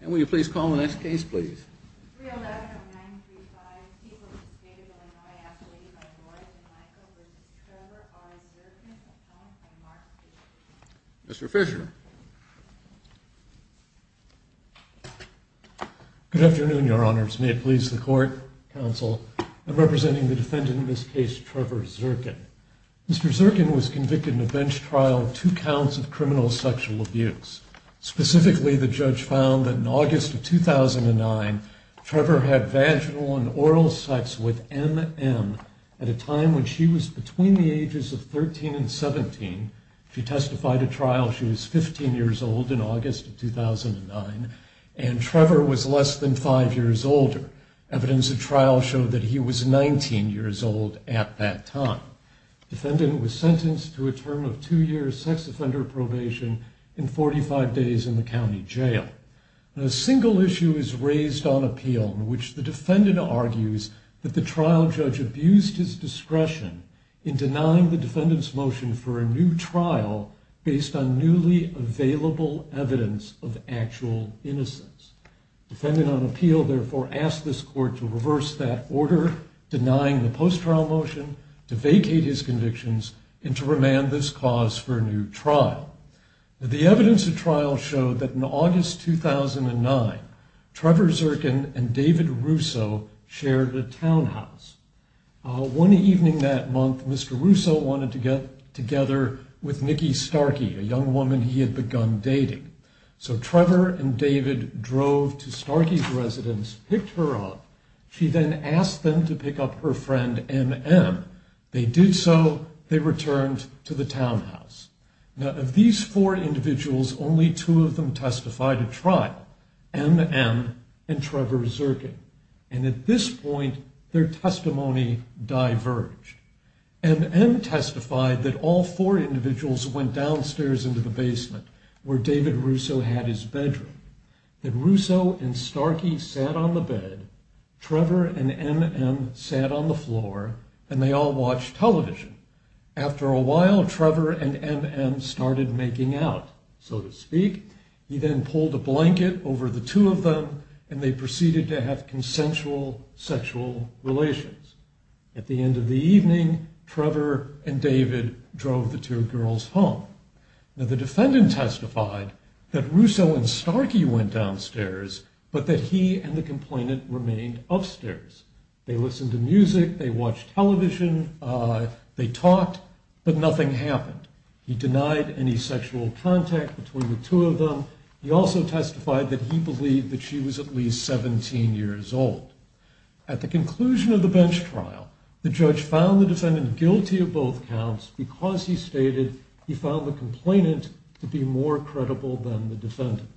And will you please call the next case, please? Mr. Fisher. Good afternoon, Your Honors. May it please the Court, Counsel, I'm representing the defendant in this case, Trevor Zirkin. Mr. Zirkin was convicted in a bench trial of two counts of criminal sexual abuse. Specifically, the judge found that in August of 2009, Trevor had vaginal and oral sex with M.M. at a time when she was between the ages of 13 and 17. She testified at trial, she was 15 years old in August of 2009, and Trevor was less than five years older. Evidence at trial showed that he was 19 years old at that time. The defendant was sentenced to a term of two-year sex offender probation and 45 days in the county jail. A single issue is raised on appeal in which the defendant argues that the trial judge abused his discretion in denying the defendant's motion for a new trial based on newly available evidence of actual innocence. The defendant on appeal therefore asked this Court to reverse that order, denying the post-trial motion, to vacate his convictions, and to remand this cause for a new trial. The evidence at trial showed that in August 2009, Trevor Zirkin and David Russo shared a townhouse. One evening that month, Mr. Russo wanted to get together with Nikki Starkey, a young woman he had begun dating. So Trevor and David drove to Starkey's residence, picked her up, she then asked them to pick up her friend M.M. They did so, they returned to the townhouse. Now of these four individuals, only two of them testified at trial, M.M. and Trevor Zirkin. And at this point, their testimony diverged. M.M. testified that all four individuals went downstairs into the basement where David Russo had his bedroom. That Russo and Starkey sat on the bed, Trevor and M.M. sat on the floor, and they all watched television. After a while, Trevor and M.M. started making out, so to speak. He then pulled a blanket over the two of them, and they proceeded to have consensual sexual relations. At the end of the evening, Trevor and David drove the two girls home. Now the defendant testified that Russo and Starkey went downstairs, but that he and the complainant remained upstairs. They listened to music, they watched television, they talked, but nothing happened. He denied any sexual contact between the two of them. He also testified that he believed that she was at least 17 years old. At the conclusion of the bench trial, the judge found the defendant guilty of both counts because he stated he found the complainant to be more credible than the defendant.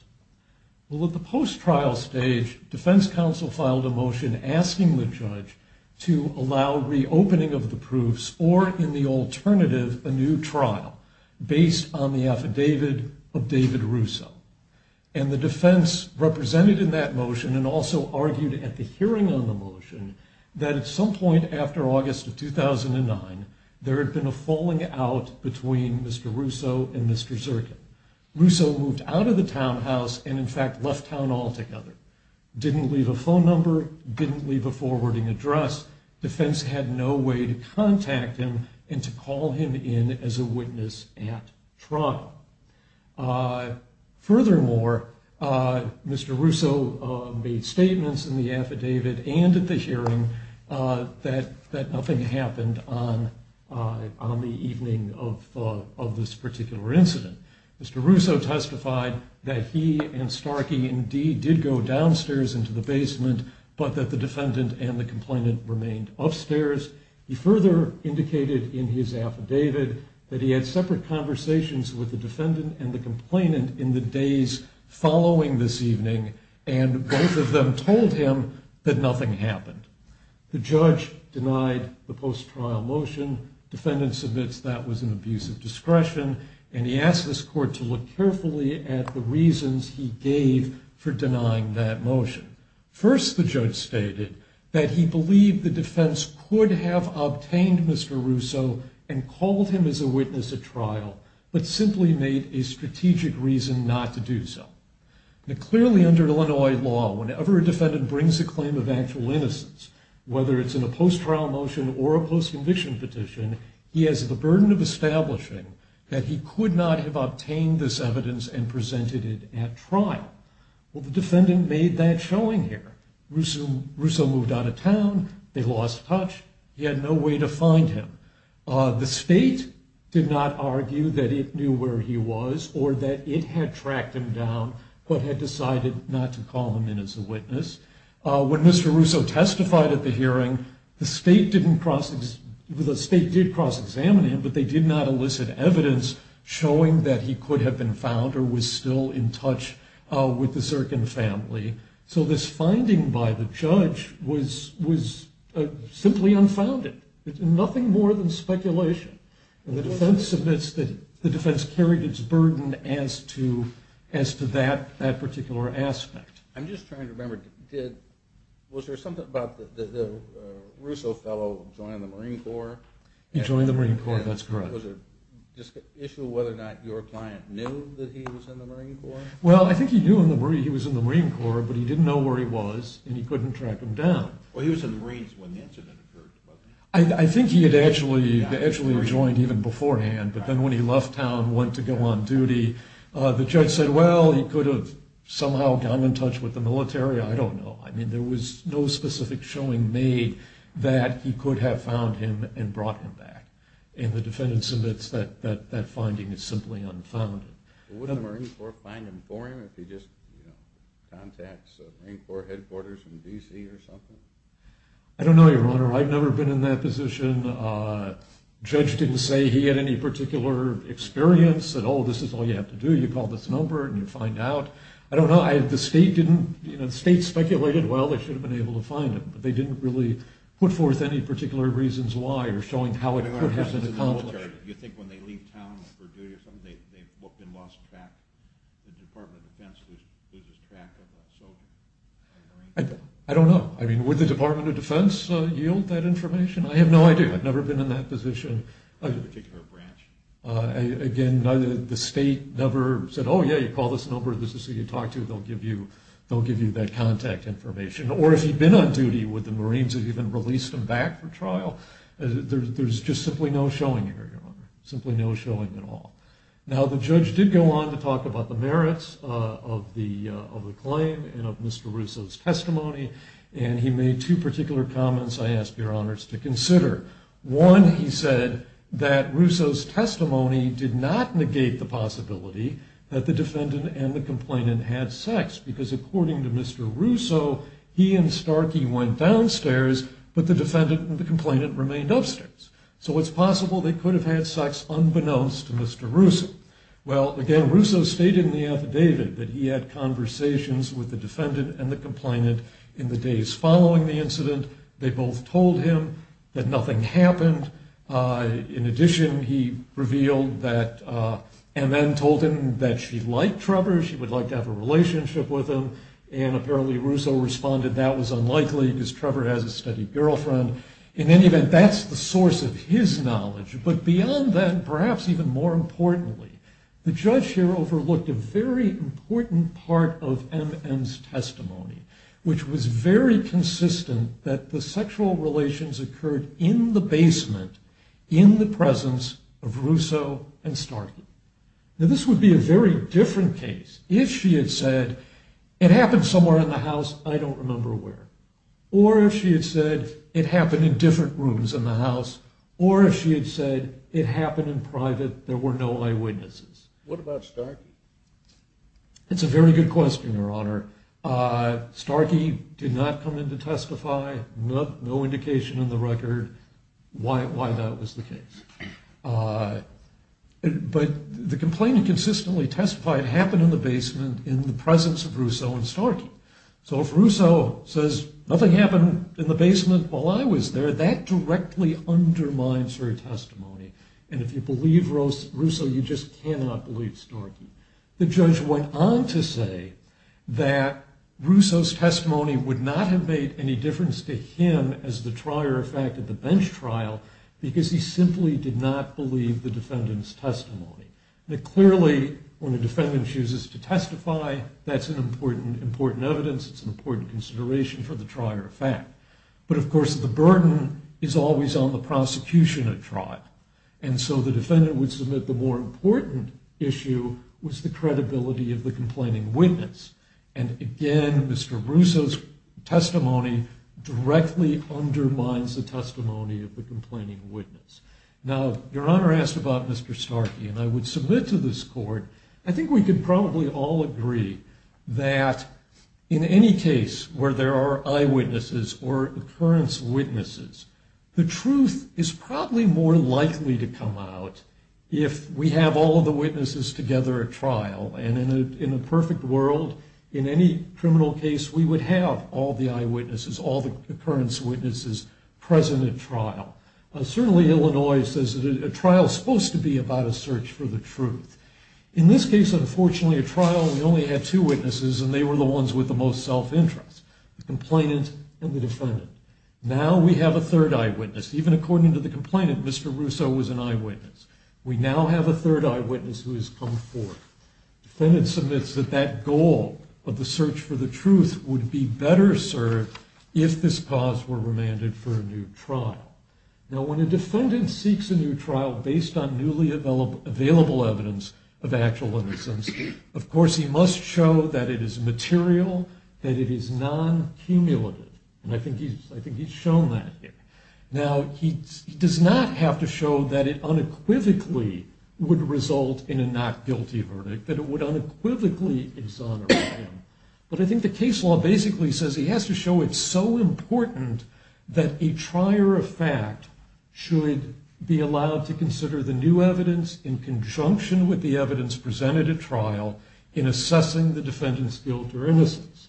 Well, at the post-trial stage, defense counsel filed a motion asking the judge to allow reopening of the proofs or, in the alternative, a new trial based on the affidavit of David Russo. And the defense represented in that motion and also argued at the hearing on the motion that at some point after August of 2009, there had been a falling out between Mr. Russo and Mr. Zirkin. Russo moved out of the townhouse and, in fact, left town altogether. Didn't leave a phone number, didn't leave a forwarding address. Defense had no way to contact him and to call him in as a witness at trial. Furthermore, Mr. Russo made statements in the affidavit and at the hearing that nothing happened on the evening of this particular incident. Mr. Russo testified that he and Starkey indeed did go downstairs into the basement, but that the defendant and the complainant remained upstairs. He further indicated in his affidavit that he had separate conversations with the defendant and the complainant in the days following this evening, and both of them told him that nothing happened. The judge denied the post-trial motion. Defendant submits that was an abuse of discretion, and he asked this court to look carefully at the reasons he gave for denying that motion. First, the judge stated that he believed the defense could have obtained Mr. Russo and called him as a witness at trial, but simply made a strategic reason not to do so. Now, clearly under Illinois law, whenever a defendant brings a claim of actual innocence, whether it's in a post-trial motion or a post-conviction petition, he has the burden of establishing that he could not have obtained this evidence and presented it at trial. Well, the defendant made that showing here. Russo moved out of town. They lost touch. He had no way to find him. The state did not argue that it knew where he was or that it had tracked him down but had decided not to call him in as a witness. When Mr. Russo testified at the hearing, the state did cross-examine him, but they did not elicit evidence showing that he could have been found or was still in touch with the Zirkin family. So this finding by the judge was simply unfounded. It's nothing more than speculation. The defense carried its burden as to that particular aspect. I'm just trying to remember, was there something about the Russo fellow joining the Marine Corps? He joined the Marine Corps, that's correct. Was there an issue of whether or not your client knew that he was in the Marine Corps? Well, I think he knew he was in the Marine Corps, but he didn't know where he was and he couldn't track him down. Well, he was in the Marines when the incident occurred. I think he had actually joined even beforehand, but then when he left town and went to go on duty, the judge said, well, he could have somehow gotten in touch with the military. I don't know. I mean, there was no specific showing made that he could have found him and brought him back, and the defendant submits that that finding is simply unfounded. Would the Marine Corps find him for him if he just contacts the Marine Corps headquarters in D.C. or something? I don't know, Your Honor. I've never been in that position. The judge didn't say he had any particular experience at all. This is all you have to do. You call this number and you find out. I don't know. The state speculated, well, they should have been able to find him, but they didn't really put forth any particular reasons why or showing how it could have been accomplished. Your Honor, do you think when they leave town for duty or something, they've been lost track? The Department of Defense loses track of a soldier? I don't know. I mean, would the Department of Defense yield that information? I have no idea. I've never been in that position. A particular branch? Again, the state never said, oh, yeah, you call this number. This is who you talk to. They'll give you that contact information. Or if he'd been on duty, would the Marines have even released him back for trial? There's just simply no showing here, Your Honor, simply no showing at all. Now, the judge did go on to talk about the merits of the claim and of Mr. Russo's testimony, and he made two particular comments I ask Your Honors to consider. One, he said that Russo's testimony did not negate the possibility that the defendant and the complainant had sex, because according to Mr. Russo, he and Starkey went downstairs, but the defendant and the complainant remained upstairs. So it's possible they could have had sex unbeknownst to Mr. Russo. Well, again, Russo stated in the affidavit that he had conversations They both told him that nothing happened. In addition, he revealed that MN told him that she liked Trevor, she would like to have a relationship with him, and apparently Russo responded that was unlikely because Trevor has a steady girlfriend. In any event, that's the source of his knowledge. But beyond that, perhaps even more importantly, the judge here overlooked a very important part of MN's testimony, which was very consistent that the sexual relations occurred in the basement, in the presence of Russo and Starkey. Now, this would be a very different case if she had said, it happened somewhere in the house, I don't remember where, or if she had said it happened in different rooms in the house, or if she had said it happened in private, there were no eyewitnesses. What about Starkey? That's a very good question, Your Honor. Starkey did not come in to testify. No indication in the record why that was the case. But the complaint he consistently testified happened in the basement, in the presence of Russo and Starkey. So if Russo says nothing happened in the basement while I was there, that directly undermines her testimony. And if you believe Russo, you just cannot believe Starkey. The judge went on to say that Russo's testimony would not have made any difference to him as the trier of fact at the bench trial, because he simply did not believe the defendant's testimony. Clearly, when a defendant chooses to testify, that's an important evidence, it's an important consideration for the trier of fact. But, of course, the burden is always on the prosecution at trial. And so the defendant would submit the more important issue was the credibility of the complaining witness. And, again, Mr. Russo's testimony directly undermines the testimony of the complaining witness. Now, Your Honor asked about Mr. Starkey, and I would submit to this court, I think we could probably all agree that in any case where there are likely to come out, if we have all of the witnesses together at trial, and in a perfect world, in any criminal case, we would have all the eyewitnesses, all the occurrence witnesses present at trial. Certainly Illinois says that a trial is supposed to be about a search for the truth. In this case, unfortunately, at trial, we only had two witnesses, and they were the ones with the most self-interest, the complainant and the defendant. Now we have a third eyewitness. Even according to the complainant, Mr. Russo was an eyewitness. We now have a third eyewitness who has come forth. The defendant submits that that goal of the search for the truth would be better served if this cause were remanded for a new trial. Now, when a defendant seeks a new trial based on newly available evidence of actual innocence, of course he must show that it is material, that it is non-cumulative. And I think he's shown that here. Now, he does not have to show that it unequivocally would result in a not-guilty verdict, that it would unequivocally exonerate him. But I think the case law basically says he has to show it's so important that a trier of fact should be allowed to consider the new evidence in conjunction with the evidence presented at trial in assessing the defendant's guilt or innocence.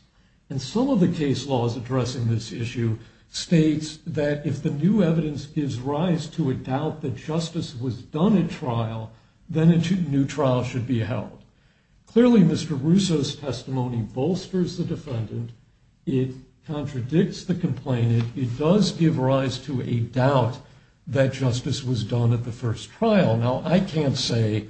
And some of the case laws addressing this issue states that if the new evidence gives rise to a doubt that justice was done at trial, then a new trial should be held. Clearly, Mr. Russo's testimony bolsters the defendant. It contradicts the complainant. It does give rise to a doubt that justice was done at the first trial. Now, I can't say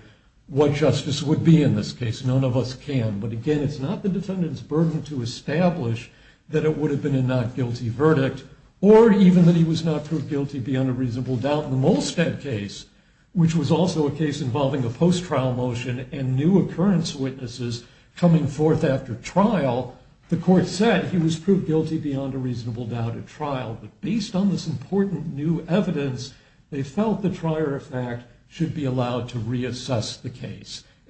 what justice would be in this case. None of us can. But, again, it's not the defendant's burden to establish that it would have been a not-guilty verdict or even that he was not proved guilty beyond a reasonable doubt. In the Molstead case, which was also a case involving a post-trial motion and new occurrence witnesses coming forth after trial, the court said he was proved guilty beyond a reasonable doubt at trial. But based on this important new evidence, and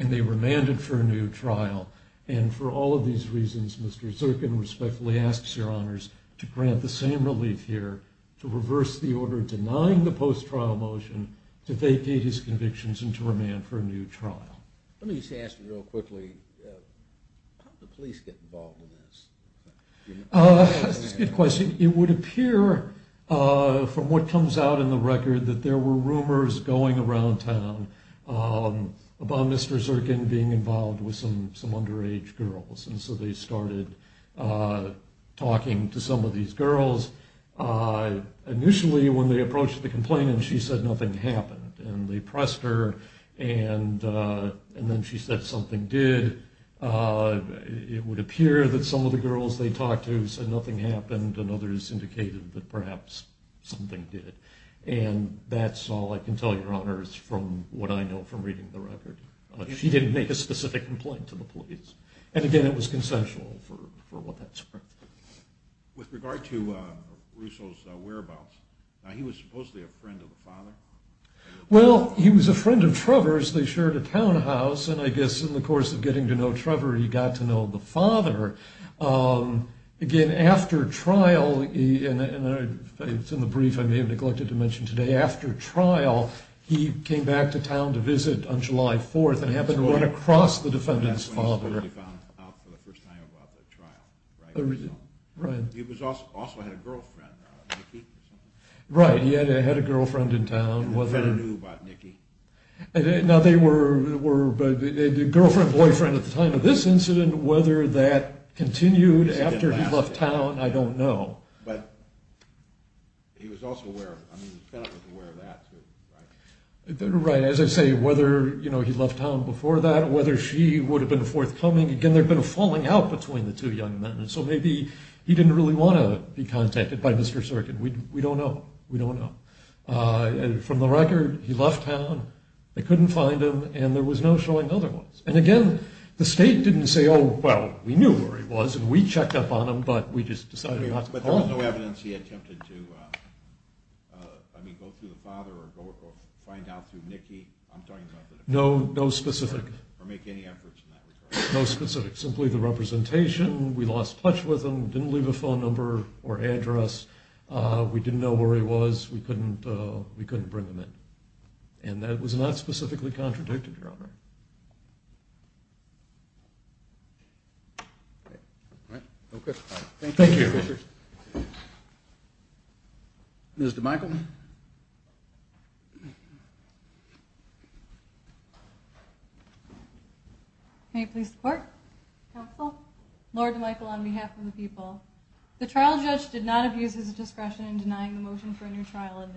they remanded for a new trial. And for all of these reasons, Mr. Zirkin respectfully asks your honors to grant the same relief here to reverse the order denying the post-trial motion to vacate his convictions and to remand for a new trial. Let me just ask you real quickly, how did the police get involved in this? That's a good question. It would appear from what comes out in the record that there were rumors going around town about Mr. Zirkin being involved with some underage girls. And so they started talking to some of these girls. Initially, when they approached the complainant, she said nothing happened. And they pressed her, and then she said something did. It would appear that some of the girls they talked to said nothing happened, and others indicated that perhaps something did. And that's all I can tell your honors from what I know from reading the record. She didn't make a specific complaint to the police. And again, it was consensual for what that's worth. With regard to Russo's whereabouts, he was supposedly a friend of the father? Well, he was a friend of Trevor's. They shared a townhouse, and I guess in the course of getting to know Trevor, he got to know the father. Again, after trial, and it's in the brief I may have neglected to mention today, after trial, he came back to town to visit on July 4th and happened to run across the defendant's father. That's when he was found out for the first time about the trial, right? Right. He also had a girlfriend, Nikki, or something? Right, he had a girlfriend in town. Who better knew about Nikki? Now, they were girlfriend, boyfriend at the time of this incident, and whether that continued after he left town, I don't know. But he was also aware of it. I mean, the defendant was aware of that, too, right? Right. As I say, whether he left town before that, whether she would have been forthcoming, again, there had been a falling out between the two young men, so maybe he didn't really want to be contacted by Mr. Serkin. We don't know. We don't know. From the record, he left town, they couldn't find him, and there was no showing of other ones. And, again, the state didn't say, oh, well, we knew where he was, and we checked up on him, but we just decided not to call him. But there was no evidence he attempted to, I mean, go through the father or find out through Nikki? I'm talking about the defendant. No, no specific. Or make any efforts in that regard. No specific. Simply the representation, we lost touch with him, didn't leave a phone number or address, we didn't know where he was, we couldn't bring him in. And that was not specifically contradicted, Your Honor. All right. Thank you. Thank you. Ms. DeMichel. May it please the Court, Counsel, Lord DeMichel, on behalf of the people. The trial judge did not abuse his discretion in denying the motion for trial.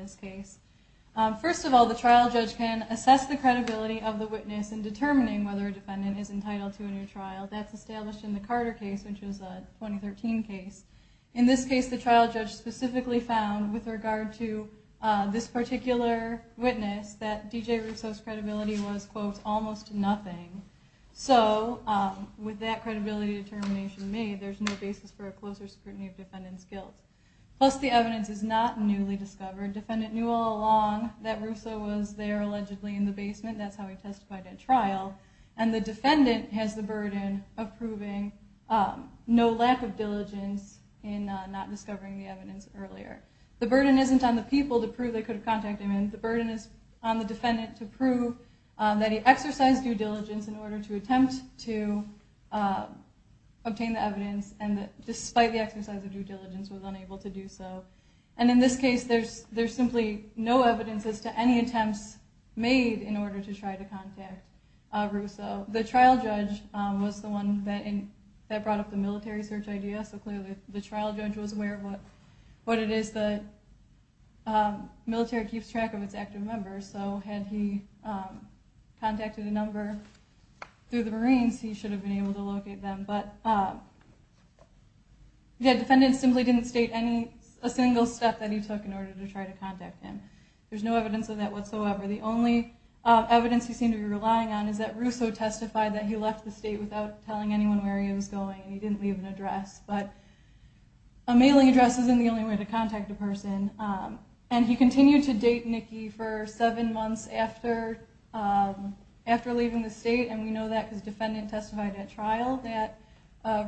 First of all, the trial judge can assess the credibility of the witness in determining whether a defendant is entitled to a new trial. That's established in the Carter case, which is a 2013 case. In this case, the trial judge specifically found, with regard to this particular witness, that D.J. Rousseau's credibility was, quote, almost nothing. So with that credibility determination made, there's no basis for a closer scrutiny of defendant's guilt. Plus, the evidence is not newly discovered. Defendant knew all along that Rousseau was there, allegedly, in the basement. That's how he testified at trial. And the defendant has the burden of proving no lack of diligence in not discovering the evidence earlier. The burden isn't on the people to prove they could have contacted him. The burden is on the defendant to prove that he exercised due diligence in order to attempt to obtain the evidence, and that despite the exercise of due diligence was unable to do so. And in this case, there's simply no evidence as to any attempts made in order to try to contact Rousseau. The trial judge was the one that brought up the military search idea, so clearly the trial judge was aware of what it is that military keeps track of its active members. So had he contacted a number through the Marines, he should have been able to locate them. But the defendant simply didn't state a single step that he took in order to try to contact him. There's no evidence of that whatsoever. The only evidence he seemed to be relying on is that Rousseau testified that he left the state without telling anyone where he was going, and he didn't leave an address. But a mailing address isn't the only way to contact a person. And he continued to date Nikki for seven months after leaving the state, and we know that because the defendant testified at trial that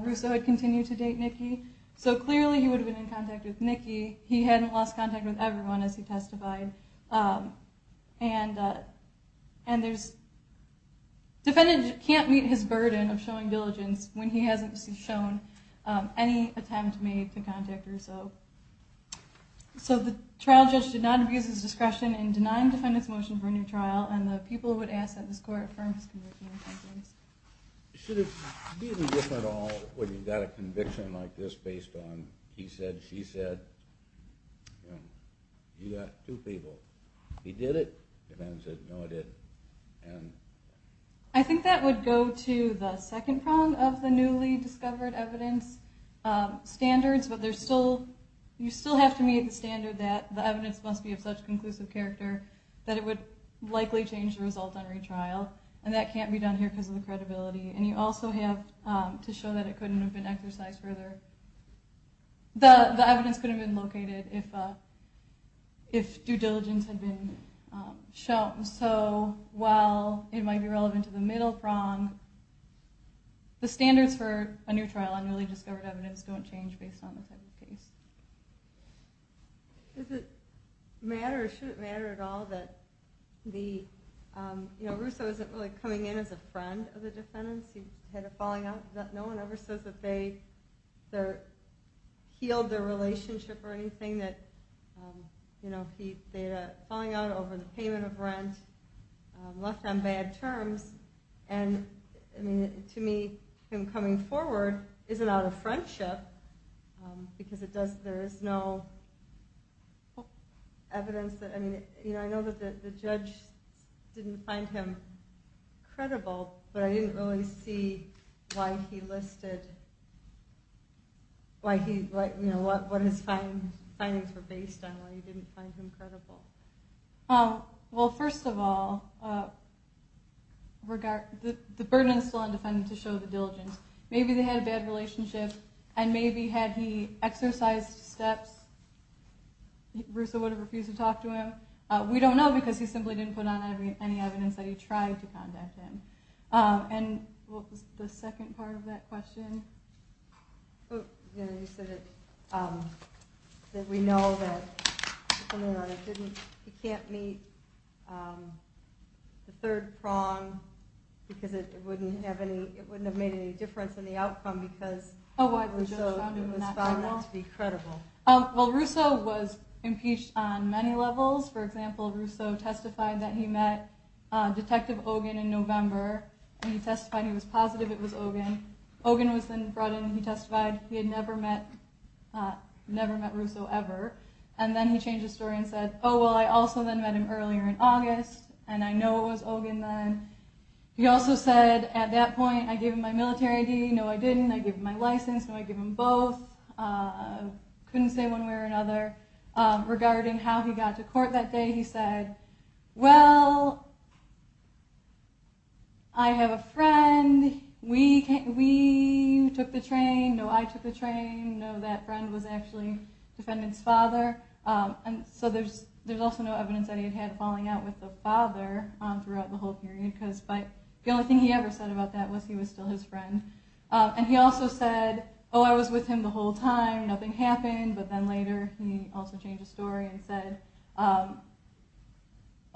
Rousseau had continued to date Nikki. So clearly he would have been in contact with Nikki. He hadn't lost contact with everyone as he testified. And the defendant can't meet his burden of showing diligence when he hasn't shown any attempt made to contact Rousseau. So the trial judge did not abuse his discretion in denying the defendant's motion for a new trial, and the people would ask that this court affirm his conviction in that case. Should it be any different at all when you've got a conviction like this based on he said, she said? You've got two people. He did it? The defendant said, no, I didn't. I think that would go to the second prong of the newly discovered evidence standards, but you still have to meet the standard that the evidence must be of such on retrial, and that can't be done here because of the credibility. And you also have to show that it couldn't have been exercised further. The evidence could have been located if due diligence had been shown. So while it might be relevant to the middle prong, the standards for a new trial on newly discovered evidence don't change based on the type of case. Does it matter or should it matter at all that the, you know, Russo isn't really coming in as a friend of the defendants. He had a falling out. No one ever says that they healed their relationship or anything that, you know, they had a falling out over the payment of rent, left on bad terms. And I mean, to me, him coming forward isn't out of friendship because it does, there is no evidence that, I mean, you know, I know that the judge didn't find him credible, but I didn't really see why he listed, you know, what his findings were based on, why he didn't find him credible. Well, first of all, the burden is still on the defendant to show the diligence. Maybe they had a bad relationship and maybe had he exercised steps, Russo would have refused to talk to him. We don't know because he simply didn't put on any evidence that he tried to contact him. And what was the second part of that question? He said that we know that he can't meet the third prong, because it wouldn't have made any difference in the outcome because Russo found that to be credible. Well, Russo was impeached on many levels. For example, Russo testified that he met Detective Ogun in November. He testified he was positive it was Ogun. Ogun was then brought in and he testified he had never met Russo ever. And then he changed his story and said, oh, well, I also then met him earlier in August, and I know it was Ogun then. He also said at that point, I gave him my military ID. No, I didn't. I gave him my license. No, I gave him both. Couldn't say one way or another. Regarding how he got to court that day, he said, well, I have a friend. We took the train. No, I took the train. No, that friend was actually the defendant's father. So there's also no evidence that he had had a falling out with the father throughout the whole period because the only thing he ever said about that was he was still his friend. And he also said, oh, I was with him the whole time. Nothing happened. But then later he also changed his story and said,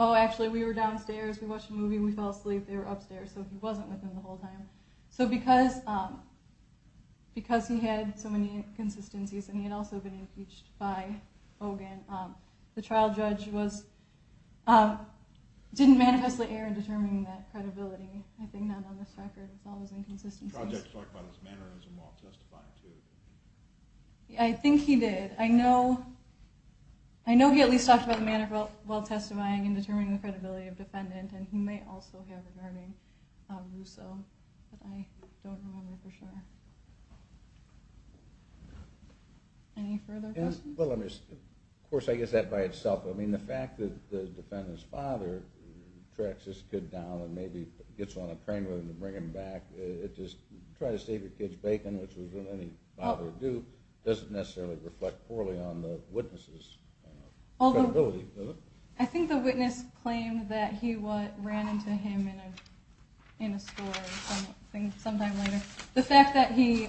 oh, actually, we were downstairs. We watched a movie. We fell asleep. They were upstairs. So he wasn't with him the whole time. So because he had so many inconsistencies and he had also been impeached by Ogun, the trial judge didn't manifestly err in determining that credibility. I think not on this record. It's all those inconsistencies. The trial judge talked about his mannerism while testifying, too. I think he did. I know he at least talked about the mannerism while testifying and determining the credibility of the defendant. And he may also have regarding Russo, but I don't remember for sure. Any further questions? Of course, I guess that by itself. I mean, the fact that the defendant's father tracks this kid down and maybe gets on a train with him to bring him back, just try to save your kid's bacon, which was what any father would do, doesn't necessarily reflect poorly on the witness's credibility. I think the witness claimed that he ran into him in a store sometime later. The fact that he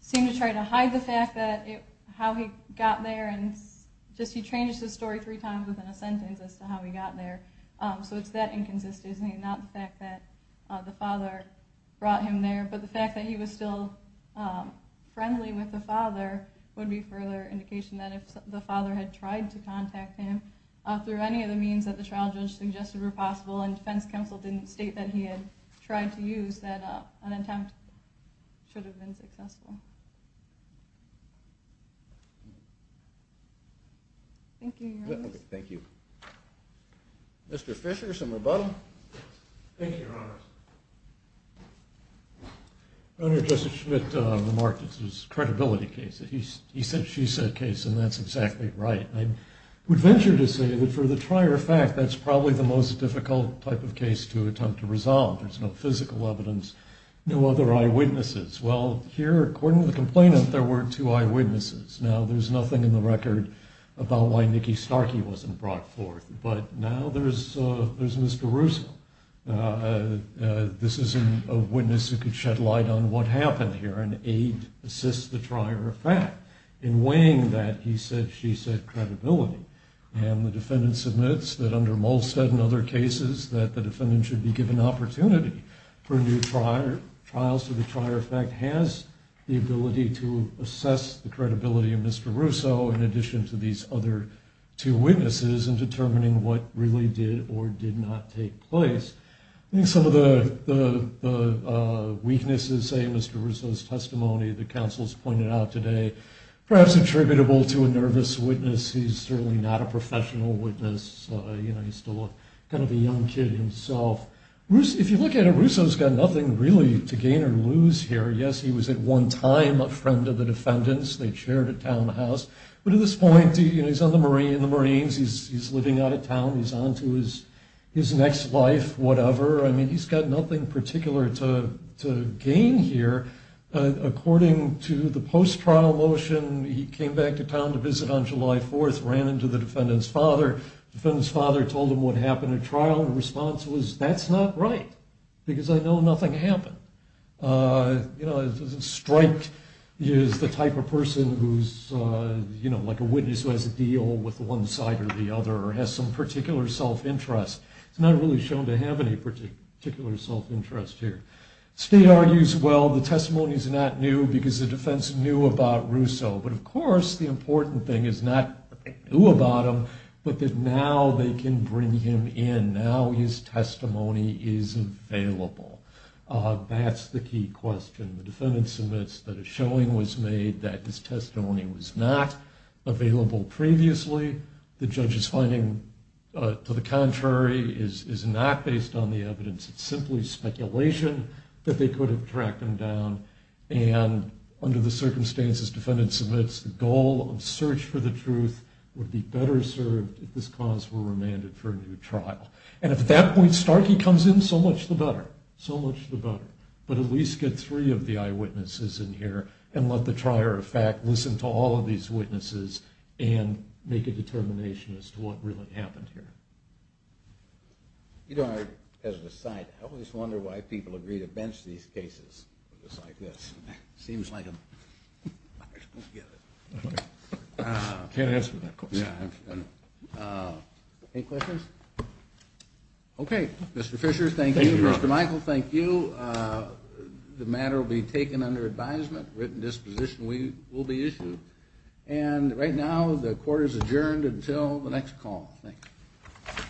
seemed to try to hide the fact that how he got there and just he changes his story three times within a sentence as to how he got there. So it's that inconsistency, not the fact that the father brought him there. But the fact that he was still friendly with the father would be further indication that if the father had tried to contact him through any of the means that the trial judge suggested were possible and defense counsel didn't state that he had tried to use, that an attempt should have been successful. Thank you, Your Honor. Thank you. Mr. Fisher, some rebuttal? Thank you, Your Honor. Your Honor, Justice Schmidt remarked it was a credibility case. He said she said case, and that's exactly right. I would venture to say that for the trier fact, that's probably the most difficult type of case to attempt to resolve. There's no physical evidence, no other eyewitnesses. Well, here, according to the complainant, there were two eyewitnesses. Now, there's nothing in the record about why Nikki Starkey wasn't brought forth. But now there's Mr. Russo. This is a witness who could shed light on what happened here and aid assist the trier fact. In weighing that, he said she said credibility. And the defendant submits that under Molstead and other cases, that the defendant should be given opportunity for new trials so the trier fact has the ability to assess the credibility of Mr. Russo in addition to these other two witnesses in determining what really did or did not take place. I think some of the weaknesses in Mr. Russo's testimony, the counsel's pointed out today, perhaps attributable to a nervous witness. He's certainly not a professional witness. You know, he's still kind of a young kid himself. If you look at it, Russo's got nothing really to gain or lose here. Yes, he was at one time a friend of the defendant's. They chaired a townhouse. But at this point, he's on the Marines. He's living out of town. He's on to his next life, whatever. I mean, he's got nothing particular to gain here. According to the post-trial motion, he came back to town to visit on July 4th, ran into the defendant's father. The defendant's father told him what happened at trial, and the response was, that's not right because I know nothing happened. You know, a strike is the type of person who's, you know, like a witness who has a deal with one side or the other or has some particular self-interest. It's not really shown to have any particular self-interest here. State argues, well, the testimony's not new because the defense knew about Russo. But, of course, the important thing is not that they knew about him, but that now they can bring him in. Now his testimony is available. That's the key question. The defendant submits that a showing was made, that his testimony was not available previously. The judge's finding, to the contrary, is not based on the evidence. It's simply speculation that they could have tracked him down. And under the circumstances, defendant submits, the goal of search for the truth would be better served if this cause were remanded for a new trial. And if at that point Starkey comes in, so much the better. So much the better. But at least get three of the eyewitnesses in here and let the trier of fact listen to all of these witnesses and make a determination as to what really happened here. You know, as a side, I always wonder why people agree to bench these cases. It's like this. Seems like them. I just don't get it. Can't answer that question. Yeah, I know. Any questions? Okay. Mr. Fisher, thank you. Mr. Michael, thank you. The matter will be taken under advisement. Written disposition will be issued. And right now the court is adjourned until the next call. Thank you.